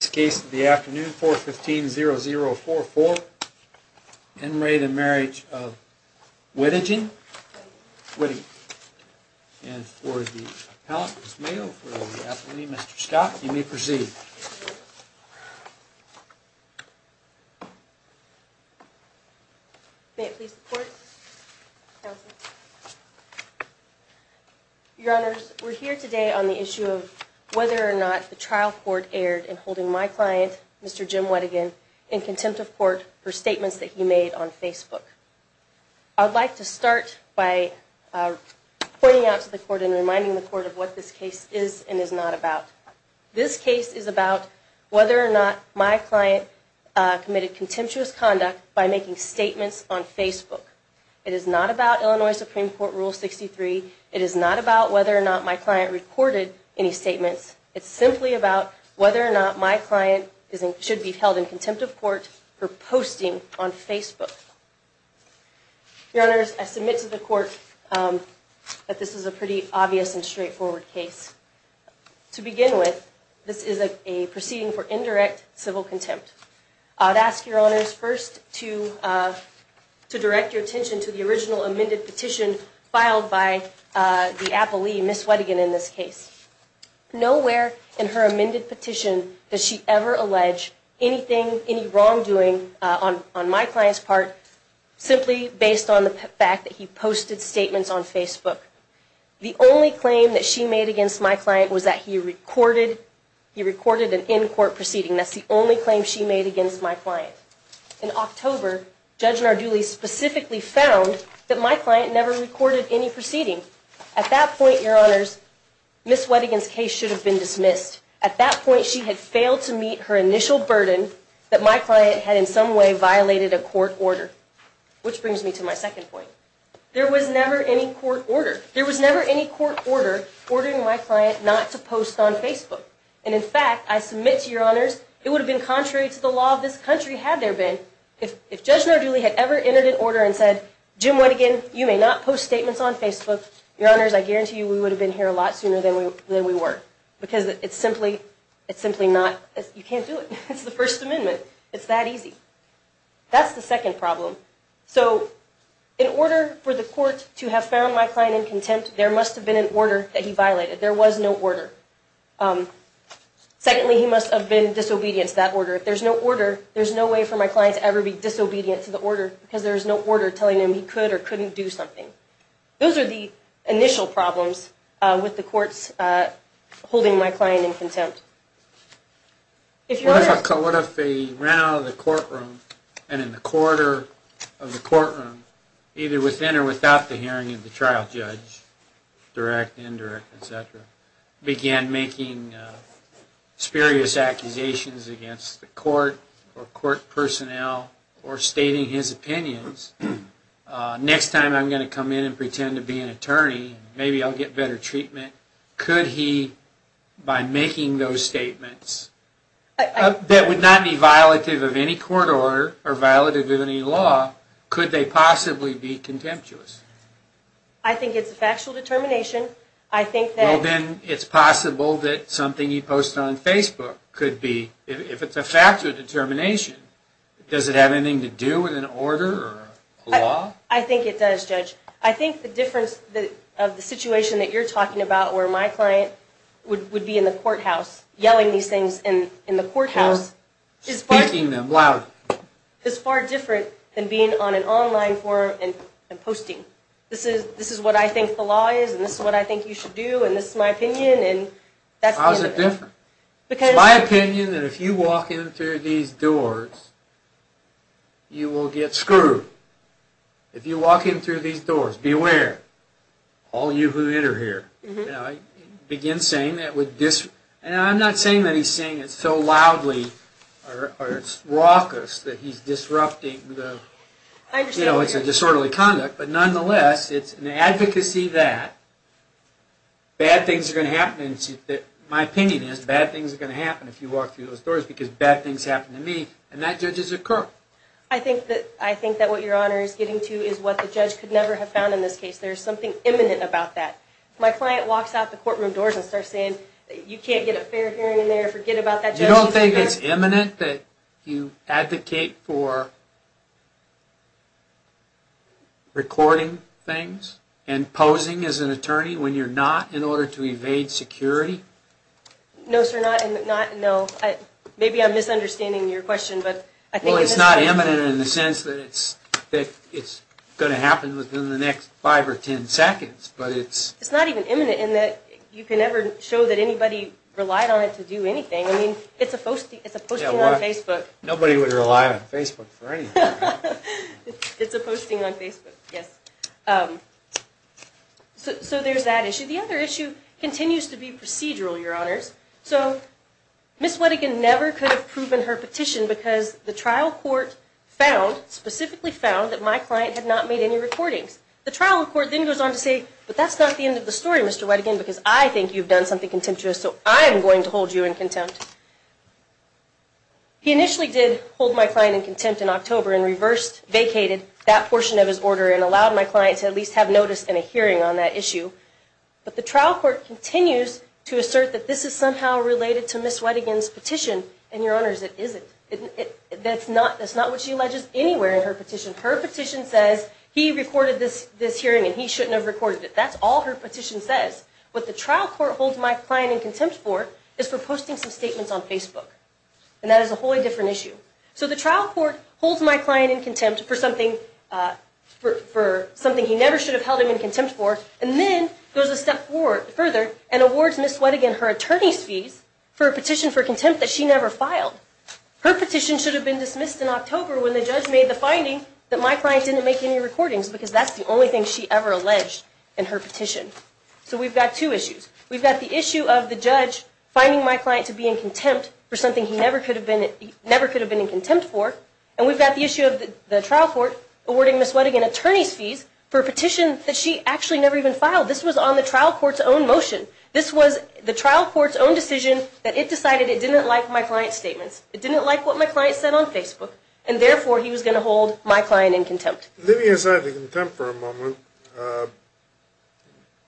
This case of the afternoon 415-0044, Enraged and Marriage of Weddigen, and for the appellant, Ms. Mayo, for the appellee, Mr. Scott, you may proceed. May I please report, counsel? Your Honors, we're here today on the issue of whether or not the trial court erred in holding my client, Mr. Jim Weddigen, in contempt of court for statements that he made on Facebook. I'd like to start by pointing out to the court and reminding the court of what this case is and is not about. This case is about whether or not my client committed contemptuous conduct by making statements on Facebook. It is not about Illinois Supreme Court Rule 63. It is not about whether or not my client recorded any statements. It's simply about whether or not my client should be held in contempt of court for posting on Facebook. Your Honors, I submit to the court that this is a pretty obvious and straightforward case. To begin with, this is a proceeding for indirect civil contempt. I'd ask, Your Honors, first to direct your attention to the original amended petition filed by the appellee, Ms. Weddigen, in this case. Nowhere in her amended petition does she ever allege anything, any wrongdoing on my client's part, simply based on the fact that he posted statements on Facebook. The only claim that she made against my client was that he recorded an in-court proceeding. That's the only claim she made against my client. In October, Judge Narduli specifically found that my client never recorded any proceeding. At that point, Your Honors, Ms. Weddigen's case should have been dismissed. At that point, she had failed to meet her initial burden that my client had in some way violated a court order, which brings me to my second point. There was never any court order. There was never any court order ordering my client not to post on Facebook. And in fact, I submit to Your Honors, it would have been contrary to the law of this country had there been. If Judge Narduli had ever entered an order and said, Jim Weddigen, you may not post statements on Facebook, Your Honors, I guarantee you we would have been here a lot sooner than we were. Because it's simply not, you can't do it. It's the First Amendment. It's that easy. That's the second problem. So in order for the court to have found my client in contempt, there must have been an order that he violated. There was no order. Secondly, he must have been disobedient to that order. If there's no order, there's no way for my client to ever be disobedient to the order because there's no order telling him he could or couldn't do something. Those are the initial problems with the courts holding my client in contempt. What if he ran out of the courtroom and in the corridor of the courtroom, either within or without the hearing of the trial judge, direct, indirect, etc., began making spurious accusations against the court or court personnel or stating his opinions? Next time I'm going to come in and pretend to be an attorney, maybe I'll get better treatment. Could he, by making those statements, that would not be violative of any court order or violative of any law, could they possibly be contemptuous? I think it's a factual determination. Well, then it's possible that something he posted on Facebook could be. If it's a factual determination, does it have anything to do with an order or a law? I think it does, Judge. I think the difference of the situation that you're talking about where my client would be in the courthouse yelling these things in the courthouse is far different than being on an online forum and posting. This is what I think the law is and this is what I think you should do and this is my opinion. How is it different? It's my opinion that if you walk in through these doors, you will get screwed. If you walk in through these doors, beware. All you who enter here. Begin saying that would dis... And I'm not saying that he's saying it so loudly or it's raucous that he's disrupting the... I understand what you're saying. You know, it's a disorderly conduct, but nonetheless, it's an advocacy that bad things are going to happen. My opinion is bad things are going to happen if you walk through those doors because bad things happen to me and that judges occur. I think that what your Honor is getting to is what the judge could never have found in this case. There's something imminent about that. If my client walks out the courtroom doors and starts saying that you can't get a fair hearing in there, forget about that judge... You don't think it's imminent that you advocate for recording things and posing as an attorney when you're not in order to evade security? No, sir, not... Maybe I'm misunderstanding your question, but... Well, it's not imminent in the sense that it's going to happen within the next five or ten seconds, but it's... It's not even imminent in that you can never show that anybody relied on it to do anything. I mean, it's a posting on Facebook. Nobody would rely on Facebook for anything. It's a posting on Facebook, yes. So there's that issue. The other issue continues to be procedural, Your Honors. So, Ms. Wettigin never could have proven her petition because the trial court found, specifically found, that my client had not made any recordings. The trial court then goes on to say, but that's not the end of the story, Mr. Wettigin, because I think you've done something contemptuous, so I'm going to hold you in contempt. He initially did hold my client in contempt in October and reversed, vacated that portion of his order and allowed my client to at least have notice and a hearing on that issue. But the trial court continues to assert that this is somehow related to Ms. Wettigin's petition, and Your Honors, it isn't. That's not what she alleges anywhere in her petition. Her petition says he recorded this hearing and he shouldn't have recorded it. That's all her petition says. What the trial court holds my client in contempt for is for posting some statements on Facebook, and that is a wholly different issue. So the trial court holds my client in contempt for something he never should have held him in contempt for, and then goes a step further and awards Ms. Wettigin her attorney's fees for a petition for contempt that she never filed. Her petition should have been dismissed in October when the judge made the finding that my client didn't make any recordings, because that's the only thing she ever alleged in her petition. So we've got two issues. We've got the issue of the judge finding my client to be in contempt for something he never could have been in contempt for, and we've got the issue of the trial court awarding Ms. Wettigin attorney's fees for a petition that she actually never even filed. This was on the trial court's own motion. This was the trial court's own decision that it decided it didn't like my client's statements. It didn't like what my client said on Facebook, and therefore, he was going to hold my client in contempt. Let me aside the contempt for a moment.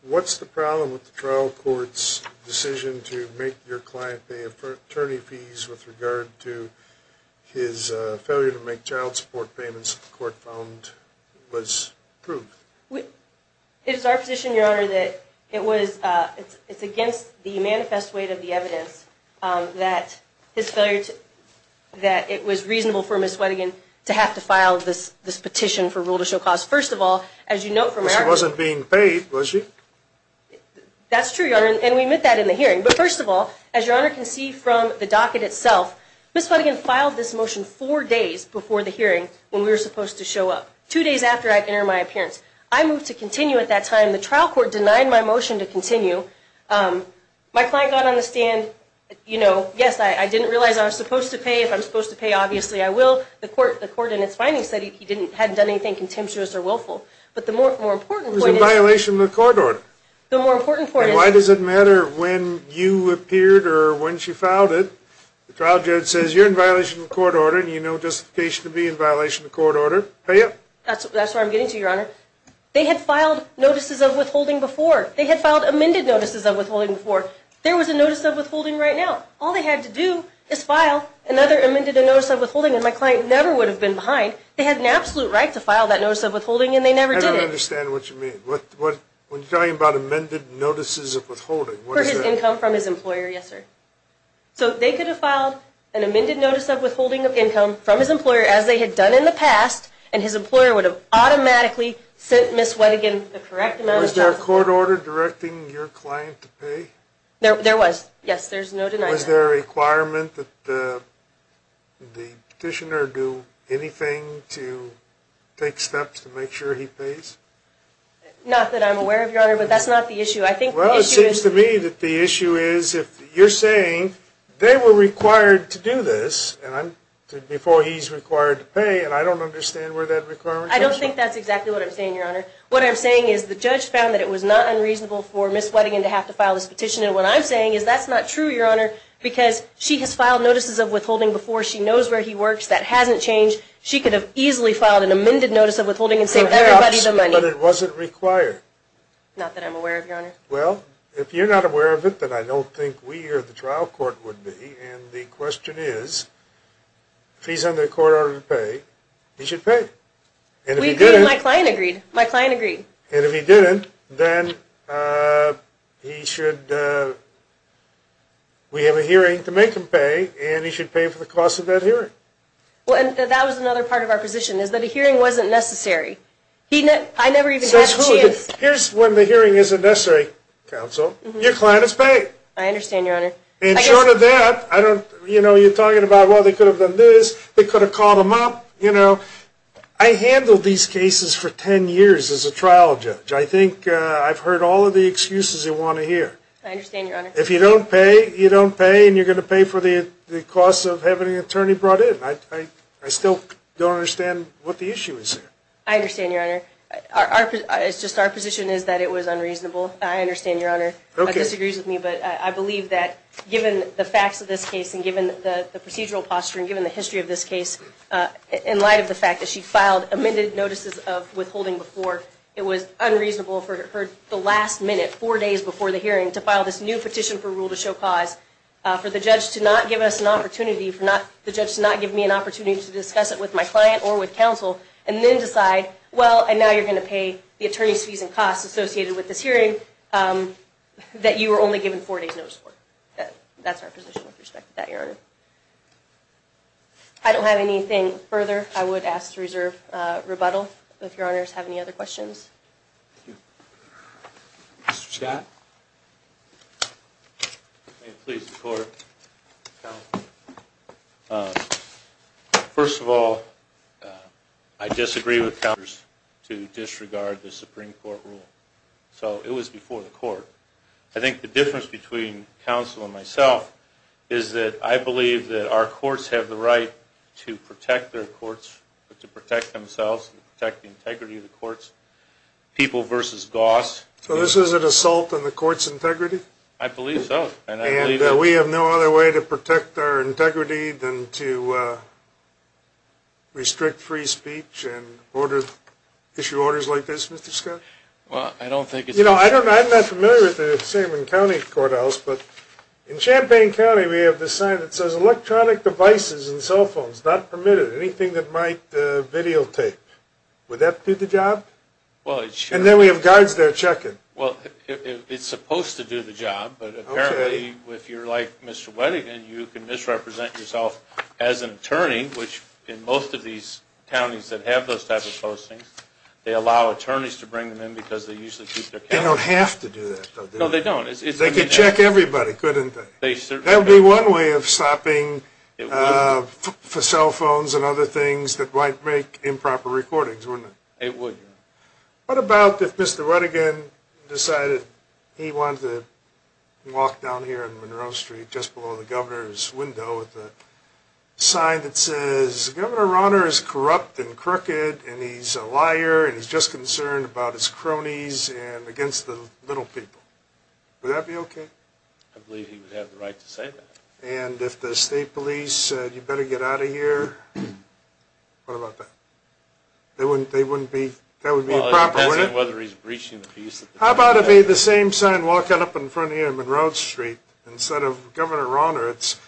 What's the problem with the trial court's decision to make your client pay attorney fees with regard to his failure to make child support payments that the court found was proof? It is our position, Your Honor, that it's against the manifest weight of the evidence that it was reasonable for Ms. Wettigin to have to file this petition for rule to show cause. She wasn't being paid, was she? That's true, Your Honor, and we admit that in the hearing. But first of all, as Your Honor can see from the docket itself, Ms. Wettigin filed this motion four days before the hearing when we were supposed to show up, two days after I'd entered my appearance. I moved to continue at that time. The trial court denied my motion to continue. My client got on the stand. Yes, I didn't realize I was supposed to pay. If I'm supposed to pay, obviously I will. The court in its findings said he hadn't done anything contemptuous or willful. But the more important point is... It was in violation of the court order. The more important point is... And why does it matter when you appeared or when she filed it? The trial judge says you're in violation of the court order and you know justification to be in violation of the court order. Pay up. That's where I'm getting to, Your Honor. They had filed notices of withholding before. They had filed amended notices of withholding before. There was a notice of withholding right now. All they had to do is file another amended notice of withholding. And my client never would have been behind. They had an absolute right to file that notice of withholding, and they never did it. I don't understand what you mean. When you're talking about amended notices of withholding, what is that? For his income from his employer, yes, sir. So they could have filed an amended notice of withholding of income from his employer as they had done in the past, and his employer would have automatically sent Ms. Wedigan the correct amount of child support. Was there a court order directing your client to pay? There was. Yes, there's no denying that. Was there a requirement that the petitioner do anything to take steps to make sure he pays? Not that I'm aware of, Your Honor, but that's not the issue. Well, it seems to me that the issue is if you're saying they were required to do this before he's required to pay, and I don't understand where that requirement comes from. I don't think that's exactly what I'm saying, Your Honor. What I'm saying is the judge found that it was not unreasonable for Ms. Wedigan to have to file this petition, and what I'm saying is that's not true, Your Honor, because she has filed notices of withholding before. She knows where he works. That hasn't changed. She could have easily filed an amended notice of withholding and saved everybody the money. Perhaps, but it wasn't required. Not that I'm aware of, Your Honor. Well, if you're not aware of it, then I don't think we or the trial court would be, and the question is if he's under a court order to pay, he should pay. My client agreed. My client agreed. And if he didn't, then we have a hearing to make him pay, and he should pay for the cost of that hearing. Well, that was another part of our position is that a hearing wasn't necessary. I never even had a chance. Here's when the hearing isn't necessary, counsel. Your client is paid. I understand, Your Honor. And short of that, you're talking about, well, they could have done this. They could have called him up. I handled these cases for 10 years as a trial judge. I think I've heard all of the excuses you want to hear. I understand, Your Honor. If you don't pay, you don't pay, and you're going to pay for the cost of having an attorney brought in. I still don't understand what the issue is here. I understand, Your Honor. It's just our position is that it was unreasonable. I understand, Your Honor. Okay. I believe that given the facts of this case and given the procedural posture and given the history of this case, in light of the fact that she filed amended notices of withholding before, it was unreasonable for her the last minute, four days before the hearing, to file this new petition for rule to show cause for the judge to not give us an opportunity, for the judge to not give me an opportunity to discuss it with my client or with counsel, and then decide, well, and now you're going to pay the attorney's fees and costs associated with this hearing, that you were only given four days notice for. That's our position with respect to that, Your Honor. If I don't have anything further, I would ask to reserve rebuttal. If Your Honors have any other questions. Thank you. Mr. Scott. May it please the Court. First of all, I disagree with counters to disregard the Supreme Court rule. So it was before the court. I think the difference between counsel and myself is that I believe that our courts have the right to protect their courts, to protect themselves, to protect the integrity of the courts. People versus goss. So this is an assault on the court's integrity? I believe so. And we have no other way to protect our integrity than to restrict free speech and issue orders like this, Mr. Scott? You know, I'm not familiar with the same in county courthouse, but in Champaign County we have this sign that says electronic devices and cell phones not permitted. Anything that might videotape. Would that do the job? And then we have guards there checking. Well, it's supposed to do the job, but apparently if you're like Mr. Wedigan, you can misrepresent yourself as an attorney, which in most of these counties that have those types of postings, they allow attorneys to bring them in because they usually keep their count. They don't have to do that, though, do they? No, they don't. They could check everybody, couldn't they? That would be one way of stopping cell phones and other things that might make improper recordings, wouldn't it? It would. What about if Mr. Wedigan decided he wanted to walk down here on Monroe Street just below the governor's window with a sign that says Governor Rauner is corrupt and crooked and he's a liar and he's just concerned about his cronies and against the little people. Would that be okay? I believe he would have the right to say that. And if the state police said you better get out of here, what about that? That would be improper, wouldn't it? Well, it depends on whether he's breaching the peace. How about if he had the same sign walking up in front of you on Monroe Street instead of Governor Rauner? It's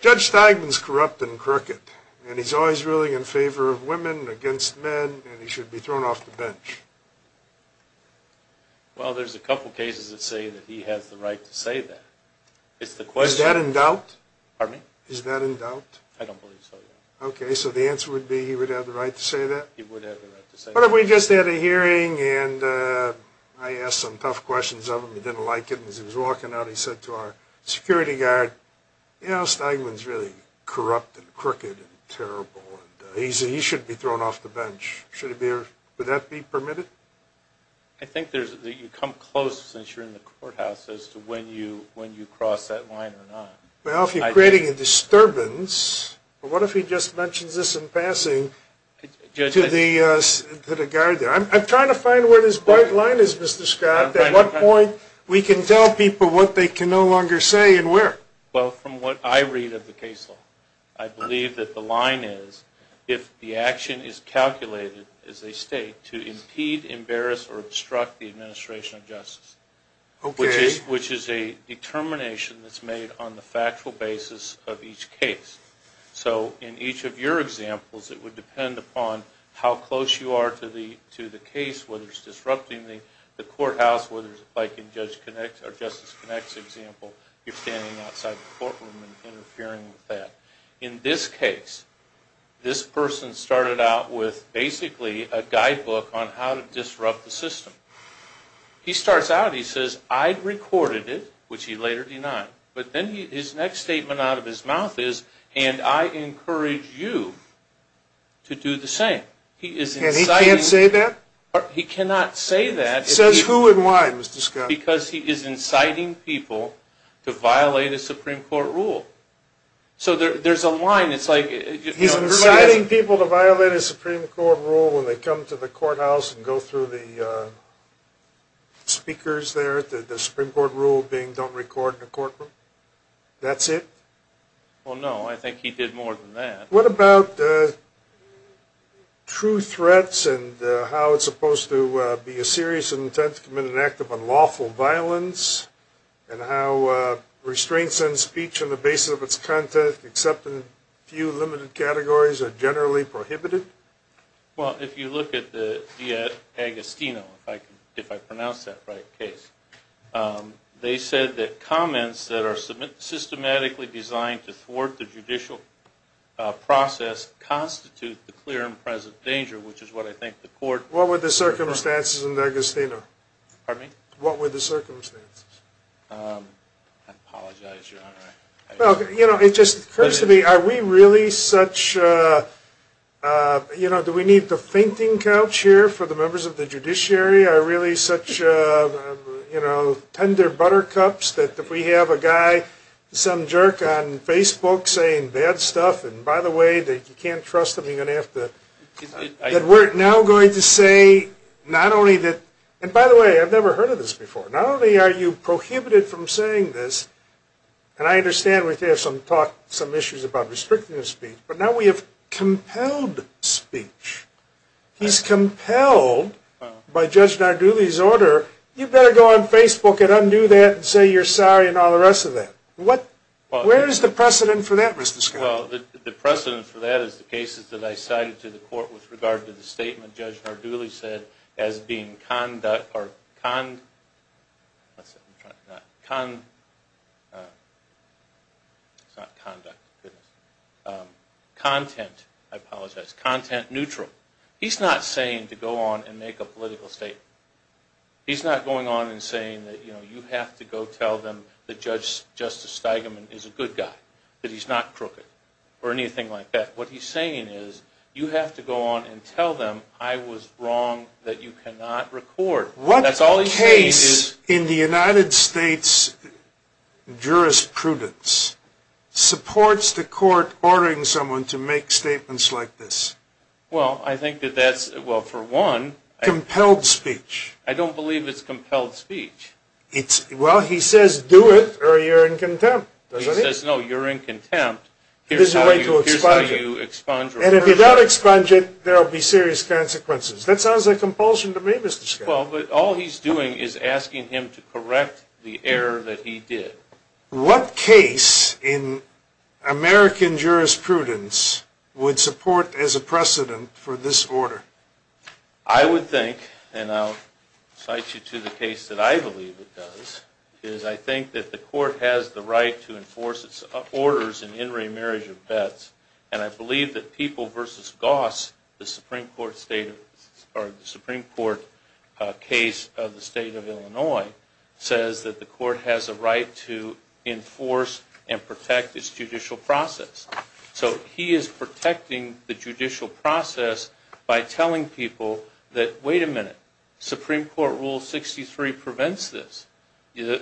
Judge Steigman's corrupt and crooked, and he's always ruling in favor of women and against men, and he should be thrown off the bench. Well, there's a couple cases that say that he has the right to say that. Is that in doubt? Pardon me? Is that in doubt? I don't believe so, no. Okay, so the answer would be he would have the right to say that? He would have the right to say that. What if we just had a hearing and I asked some tough questions of him, he didn't like it, and as he was walking out he said to our security guard, you know, Steigman's really corrupt and crooked and terrible, and he should be thrown off the bench. Would that be permitted? I think you come close, since you're in the courthouse, as to when you cross that line or not. Well, if you're creating a disturbance, what if he just mentions this in passing to the guard there? I'm trying to find where this bright line is, Mr. Scott. At what point we can tell people what they can no longer say and where? Well, from what I read of the case law, I believe that the line is if the action is calculated as a state to impede, embarrass, or obstruct the administration of justice, which is a determination that's made on the factual basis of each case. So in each of your examples, it would depend upon how close you are to the case, whether it's disrupting the courthouse, whether, like in Justice Connick's example, you're standing outside the courtroom and interfering with that. In this case, this person started out with basically a guidebook on how to disrupt the system. He starts out, he says, I recorded it, which he later denied, but then his next statement out of his mouth is, and I encourage you to do the same. And he can't say that? He cannot say that. Says who and why, Mr. Scott? Because he is inciting people to violate a Supreme Court rule. So there's a line, it's like... He's inciting people to violate a Supreme Court rule when they come to the courthouse and go through the speakers there, the Supreme Court rule being don't record in the courtroom? That's it? Well, no, I think he did more than that. What about true threats and how it's supposed to be a serious intent to commit an act of unlawful violence and how restraints on speech on the basis of its content, except in a few limited categories, are generally prohibited? Well, if you look at the Agostino, if I pronounce that right, case, they said that comments that are systematically designed to thwart the judicial process constitute the clear and present danger, which is what I think the court... What were the circumstances in the Agostino? Pardon me? What were the circumstances? I apologize, Your Honor. It just occurs to me, are we really such... Do we need the fainting couch here for the members of the judiciary? Are we really such tender buttercups that if we have a guy, some jerk on Facebook saying bad stuff, and by the way, you can't trust him, you're going to have to... We're now going to say not only that... And by the way, I've never heard of this before. Not only are you prohibited from saying this, and I understand we have some issues about restricting the speech, but now we have compelled speech. He's compelled by Judge Nardulli's order, you better go on Facebook and undo that and say you're sorry and all the rest of that. Where is the precedent for that, Mr. Scott? Well, the precedent for that is the cases that I cited to the court with regard to the statement Judge Nardulli said as being conduct... It's not conduct, goodness. Content, I apologize, content neutral. He's not saying to go on and make a political statement. He's not going on and saying that you have to go tell them that Justice Steigman is a good guy, that he's not crooked, or anything like that. What he's saying is you have to go on and tell them I was wrong, that you cannot record. What case in the United States jurisprudence supports the court ordering someone to make statements like this? Well, I think that that's, well, for one... Compelled speech. I don't believe it's compelled speech. Well, he says do it or you're in contempt. He says no, you're in contempt. Here's how you expunge it. And if you don't expunge it, there will be serious consequences. That sounds like compulsion to me, Mr. Scott. Well, but all he's doing is asking him to correct the error that he did. What case in American jurisprudence would support as a precedent for this order? I would think, and I'll cite you to the case that I believe it does, is I think that the court has the right to enforce its orders in in re marriage of bets, and I believe that People v. Goss, the Supreme Court case of the state of Illinois, says that the court has a right to enforce and protect its judicial process. So he is protecting the judicial process by telling people that wait a minute, Supreme Court Rule 63 prevents this.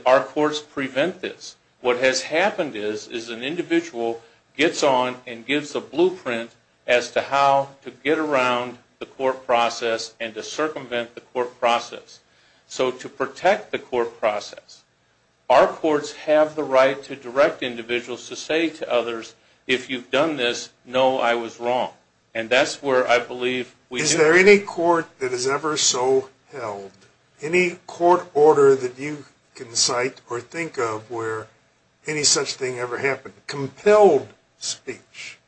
Our courts prevent this. What has happened is an individual gets on and gives a blueprint as to how to get around the court process and to circumvent the court process. So to protect the court process, our courts have the right to direct individuals to say to others, if you've done this, know I was wrong. And that's where I believe we do. Is there any court that has ever so held, any court order that you can cite or think of where any such thing ever happened? Compelled speech.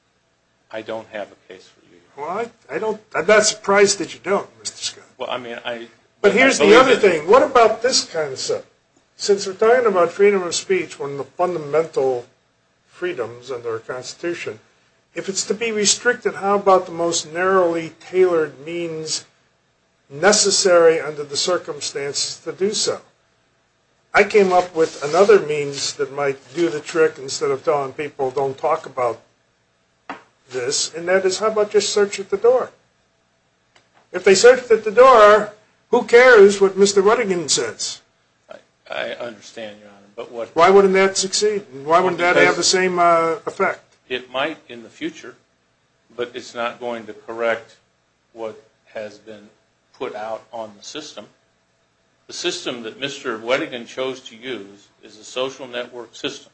I don't have a case for you. I'm not surprised that you don't, Mr. Scott. But here's the other thing. What about this concept? Since we're talking about freedom of speech, one of the fundamental freedoms under our Constitution, if it's to be restricted, how about the most narrowly tailored means necessary under the circumstances to do so? I came up with another means that might do the trick instead of telling people don't talk about this, and that is how about just search at the door? If they search at the door, who cares what Mr. Ruddigan says? I understand, Your Honor. Why wouldn't that succeed? Why wouldn't that have the same effect? It might in the future, but it's not going to correct what has been put out on the system. The system that Mr. Ruddigan chose to use is a social network system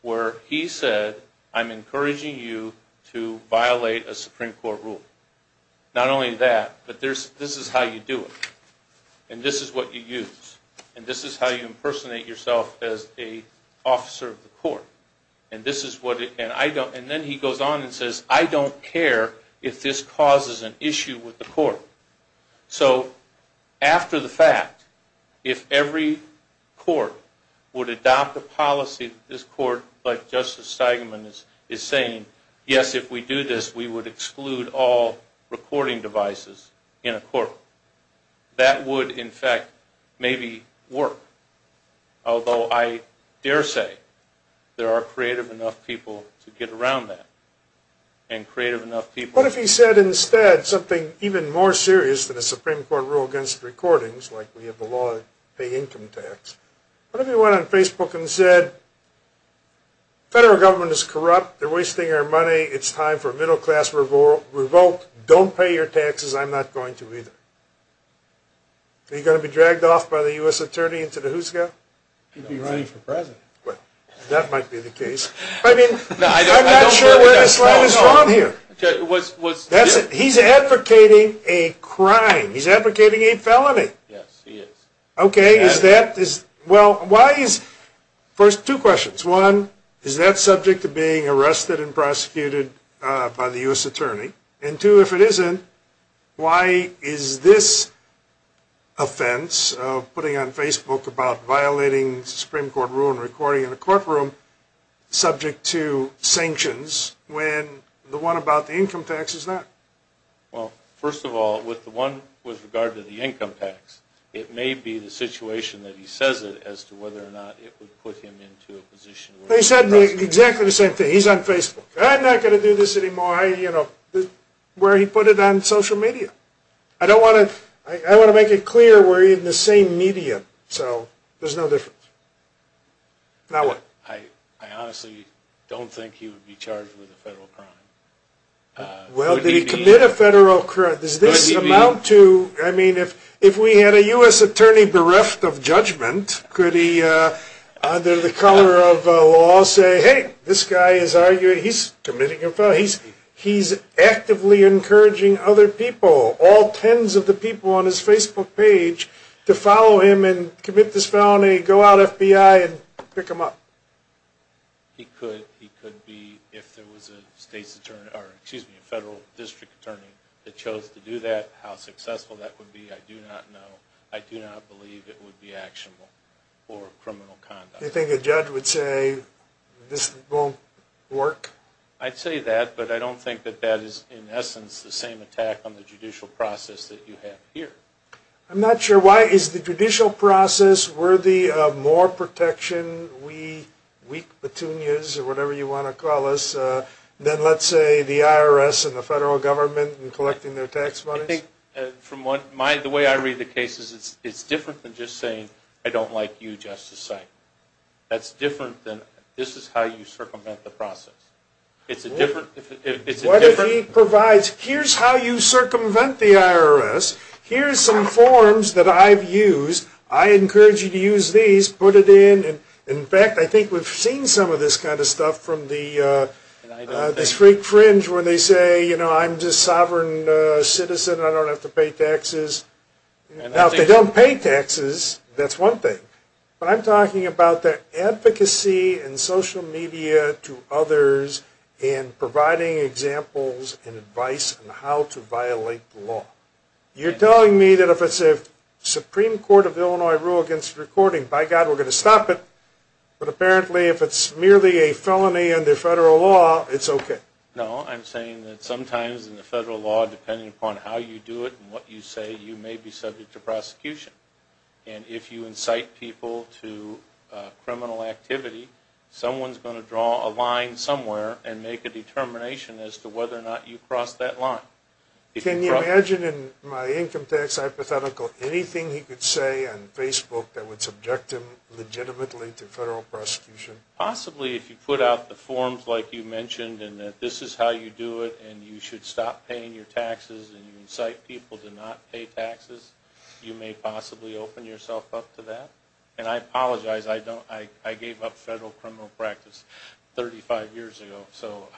where he said, I'm encouraging you to violate a Supreme Court rule. Not only that, but this is how you do it, and this is what you use, and this is how you impersonate yourself as an officer of the court. And then he goes on and says, I don't care if this causes an issue with the court. So after the fact, if every court would adopt a policy, this court, like Justice Steigman is saying, yes, if we do this, we would exclude all recording devices in a court. That would, in fact, maybe work. Although I dare say there are creative enough people to get around that, and creative enough people. What if he said instead something even more serious than a Supreme Court rule against recordings, like we have a law that would pay income tax. What if he went on Facebook and said, federal government is corrupt. They're wasting our money. It's time for a middle class revolt. Don't pay your taxes. I'm not going to either. Are you going to be dragged off by the U.S. attorney into the who's go? He'd be running for president. That might be the case. I mean, I'm not sure where this line is from here. He's advocating a crime. He's advocating a felony. Yes, he is. Okay, is that, well, why is, first, two questions. One, is that subject to being arrested and prosecuted by the U.S. attorney? And two, if it isn't, why is this offense of putting on Facebook about violating the Supreme Court rule and recording in a courtroom subject to sanctions when the one about the income tax is not? Well, first of all, with the one with regard to the income tax, it may be the situation that he says it as to whether or not it would put him into a position. But he said exactly the same thing. He's on Facebook. I'm not going to do this anymore, you know, where he put it on social media. I don't want to, I want to make it clear we're in the same media, so there's no difference. Now what? I honestly don't think he would be charged with a federal crime. Well, did he commit a federal crime? Does this amount to, I mean, if we had a U.S. attorney bereft of judgment, could he under the cover of law say, hey, this guy is arguing, he's committing a felony. He's actively encouraging other people, all tens of the people on his Facebook page, to follow him and commit this felony, go out FBI and pick him up. He could. He could be, if there was a federal district attorney that chose to do that, how successful that would be, I do not know. I do not believe it would be actionable for criminal conduct. Do you think a judge would say this won't work? I'd say that, but I don't think that that is, in essence, the same attack on the judicial process that you have here. I'm not sure. Why is the judicial process worthy of more protection, we weak petunias or whatever you want to call us, than, let's say, the IRS and the federal government in collecting their tax monies? The way I read the case is it's different than just saying, I don't like you, Justice Sykes. That's different than, this is how you circumvent the process. It's a different... Here's how you circumvent the IRS. Here's some forms that I've used. I encourage you to use these. Put it in. In fact, I think we've seen some of this kind of stuff from the street fringe where they say, you know, I'm just a sovereign citizen. I don't have to pay taxes. Now, if they don't pay taxes, that's one thing. But I'm talking about the advocacy and social media to others and providing examples and advice on how to violate the law. You're telling me that if it's a Supreme Court of Illinois rule against recording, by God, we're going to stop it. But apparently, if it's merely a felony under federal law, it's okay. No, I'm saying that sometimes in the federal law, depending upon how you do it and what you say, you may be subject to prosecution. And if you incite people to criminal activity, someone's going to draw a line somewhere and make a determination as to whether or not you cross that line. Can you imagine in my income tax hypothetical anything he could say on Facebook that would subject him legitimately to federal prosecution? Possibly if you put out the forms like you mentioned and that this is how you do it and you should stop paying your taxes and you incite people to not pay taxes, you may possibly open yourself up to that. And I apologize, I gave up federal criminal practice 35 years ago, so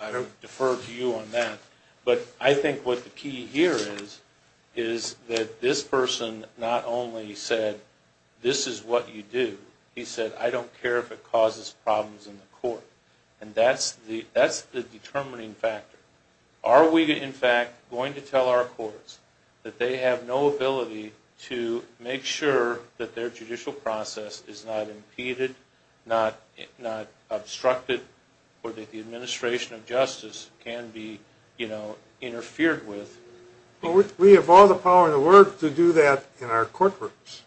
I defer to you on that. But I think what the key here is that this person not only said, this is what you do, he said, I don't care if it causes problems in the court. And that's the determining factor. Are we, in fact, going to tell our courts that they have no ability to make sure that their judicial process is not impeded, not obstructed, or that the administration of justice can be interfered with? We have all the power in the world to do that in our courtrooms.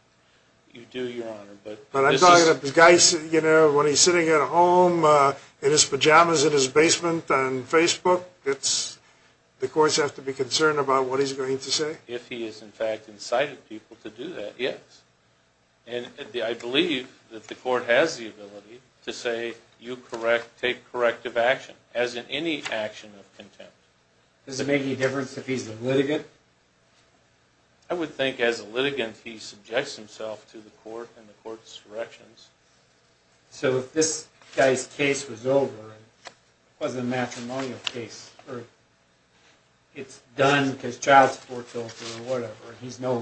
You do, Your Honor. But I'm talking about the guy when he's sitting at home in his pajamas in his basement on Facebook, the courts have to be concerned about what he's going to say? If he has, in fact, incited people to do that, yes. And I believe that the court has the ability to say, you take corrective action, as in any action of contempt. Does it make any difference if he's a litigant? I would think as a litigant he subjects himself to the court and the court's corrections. So if this guy's case was over and it wasn't a matrimonial case, or it's done because child support's over or whatever, and there's no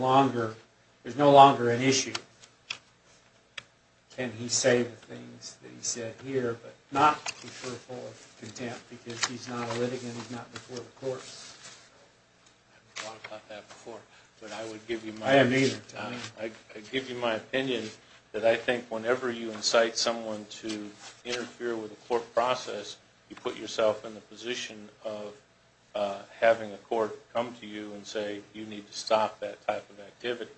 longer an issue, can he say the things that he said here but not be fearful of contempt because he's not a litigant, he's not before the courts? I haven't thought about that before. I haven't either. I give you my opinion that I think whenever you incite someone to interfere with a court process, you put yourself in the position of having a court come to you and say, you need to stop that type of activity.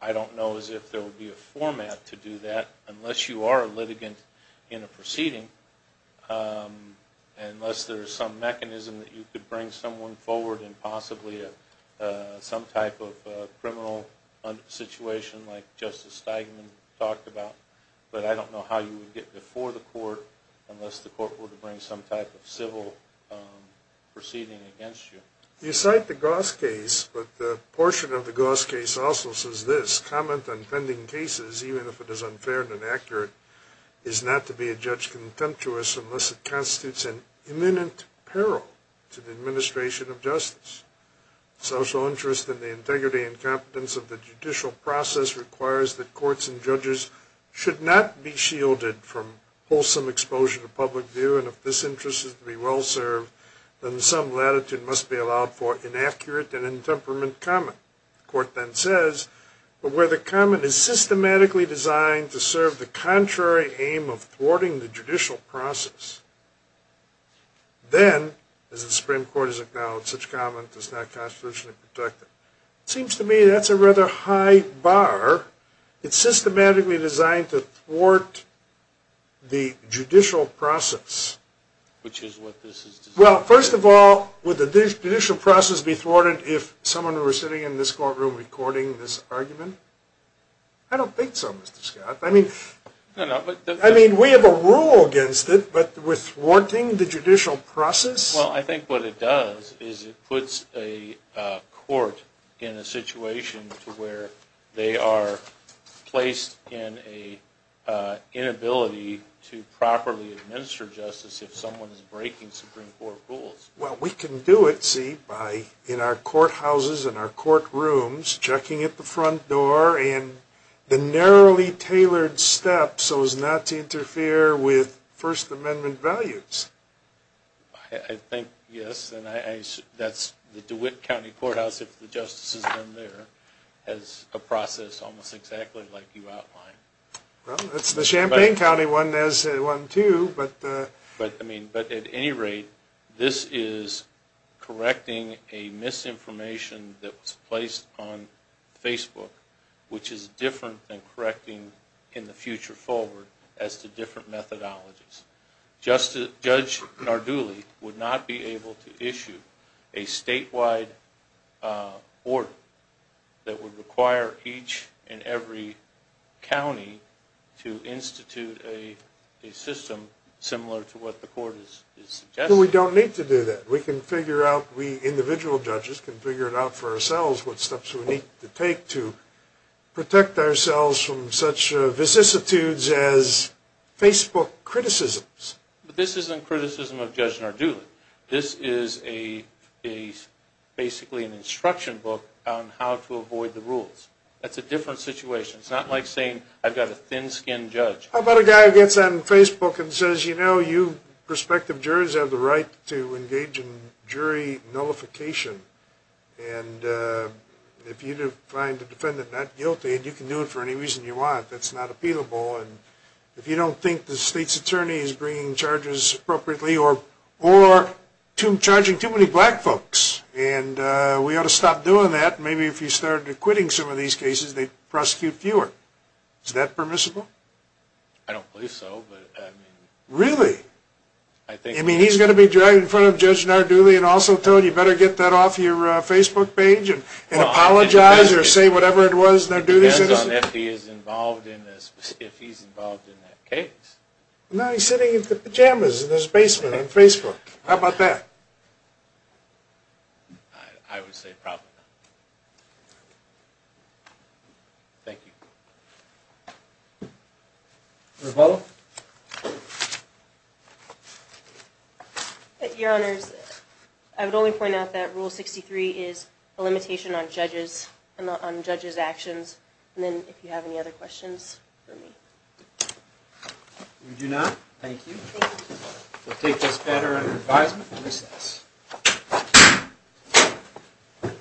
I don't know as if there will be a format to do that unless you are a litigant in a proceeding, unless there's some mechanism that you could bring someone forward in possibly some type of criminal situation like Justice Steigman talked about. But I don't know how you would get before the court unless the court were to bring some type of civil proceeding against you. You cite the Goss case, but the portion of the Goss case also says this, comment on pending cases, even if it is unfair and inaccurate, is not to be a judge contemptuous unless it constitutes an imminent peril to the administration of justice. Social interest in the integrity and competence of the judicial process requires that courts and judges should not be shielded from wholesome exposure to public view, and if this interest is to be well served, then some latitude must be allowed for inaccurate and intemperament comment. The court then says, but where the comment is systematically designed to serve the contrary aim of thwarting the judicial process, then, as the Supreme Court has acknowledged, such comment is not constitutionally protected. It seems to me that's a rather high bar. It's systematically designed to thwart the judicial process. Which is what this is designed to do. Well, first of all, would the judicial process be thwarted if someone were sitting in this courtroom recording this argument? I don't think so, Mr. Scott. I mean, we have a rule against it, but with thwarting the judicial process? Well, I think what it does is it puts a court in a situation to where they are placed in an inability to properly administer justice if someone is breaking Supreme Court rules. Well, we can do it, see, in our courthouses and our courtrooms, checking at the front door and the narrowly tailored steps so as not to interfere with First Amendment values. I think, yes, and that's the DeWitt County Courthouse, if the justice has been there, has a process almost exactly like you outlined. Well, that's the Champaign County one too, but... But, I mean, at any rate, this is correcting a misinformation that was placed on Facebook, which is different than correcting in the future forward as to different methodologies. Judge Narduli would not be able to issue a statewide order that would require each and every county to institute a system similar to what the court is suggesting. Well, we don't need to do that. We can figure out, we individual judges can figure it out for ourselves what steps we need to take to protect ourselves from such vicissitudes as Facebook criticisms. But this isn't criticism of Judge Narduli. This is basically an instruction book on how to avoid the rules. That's a different situation. It's not like saying, I've got a thin-skinned judge. How about a guy who gets on Facebook and says, you know, you prospective jurors have the right to engage in jury nullification, and if you find a defendant not guilty, and you can do it for any reason you want, that's not appealable, and if you don't think the state's attorney is bringing charges appropriately or charging too many black folks, and we ought to stop doing that. Maybe if you started acquitting some of these cases, they'd prosecute fewer. Is that permissible? I don't believe so. Really? I mean, he's going to be driving in front of Judge Narduli and also told you better get that off your Facebook page and apologize or say whatever it was Narduli says. I don't know if he's involved in that case. No, he's sitting in his pajamas in his basement on Facebook. How about that? I would say probably not. Thank you. Ms. Butler? Your Honors, I would only point out that Rule 63 is a limitation on judges' actions, and then if you have any other questions for me. We do not. Thank you. We'll take this matter under advisement and recess.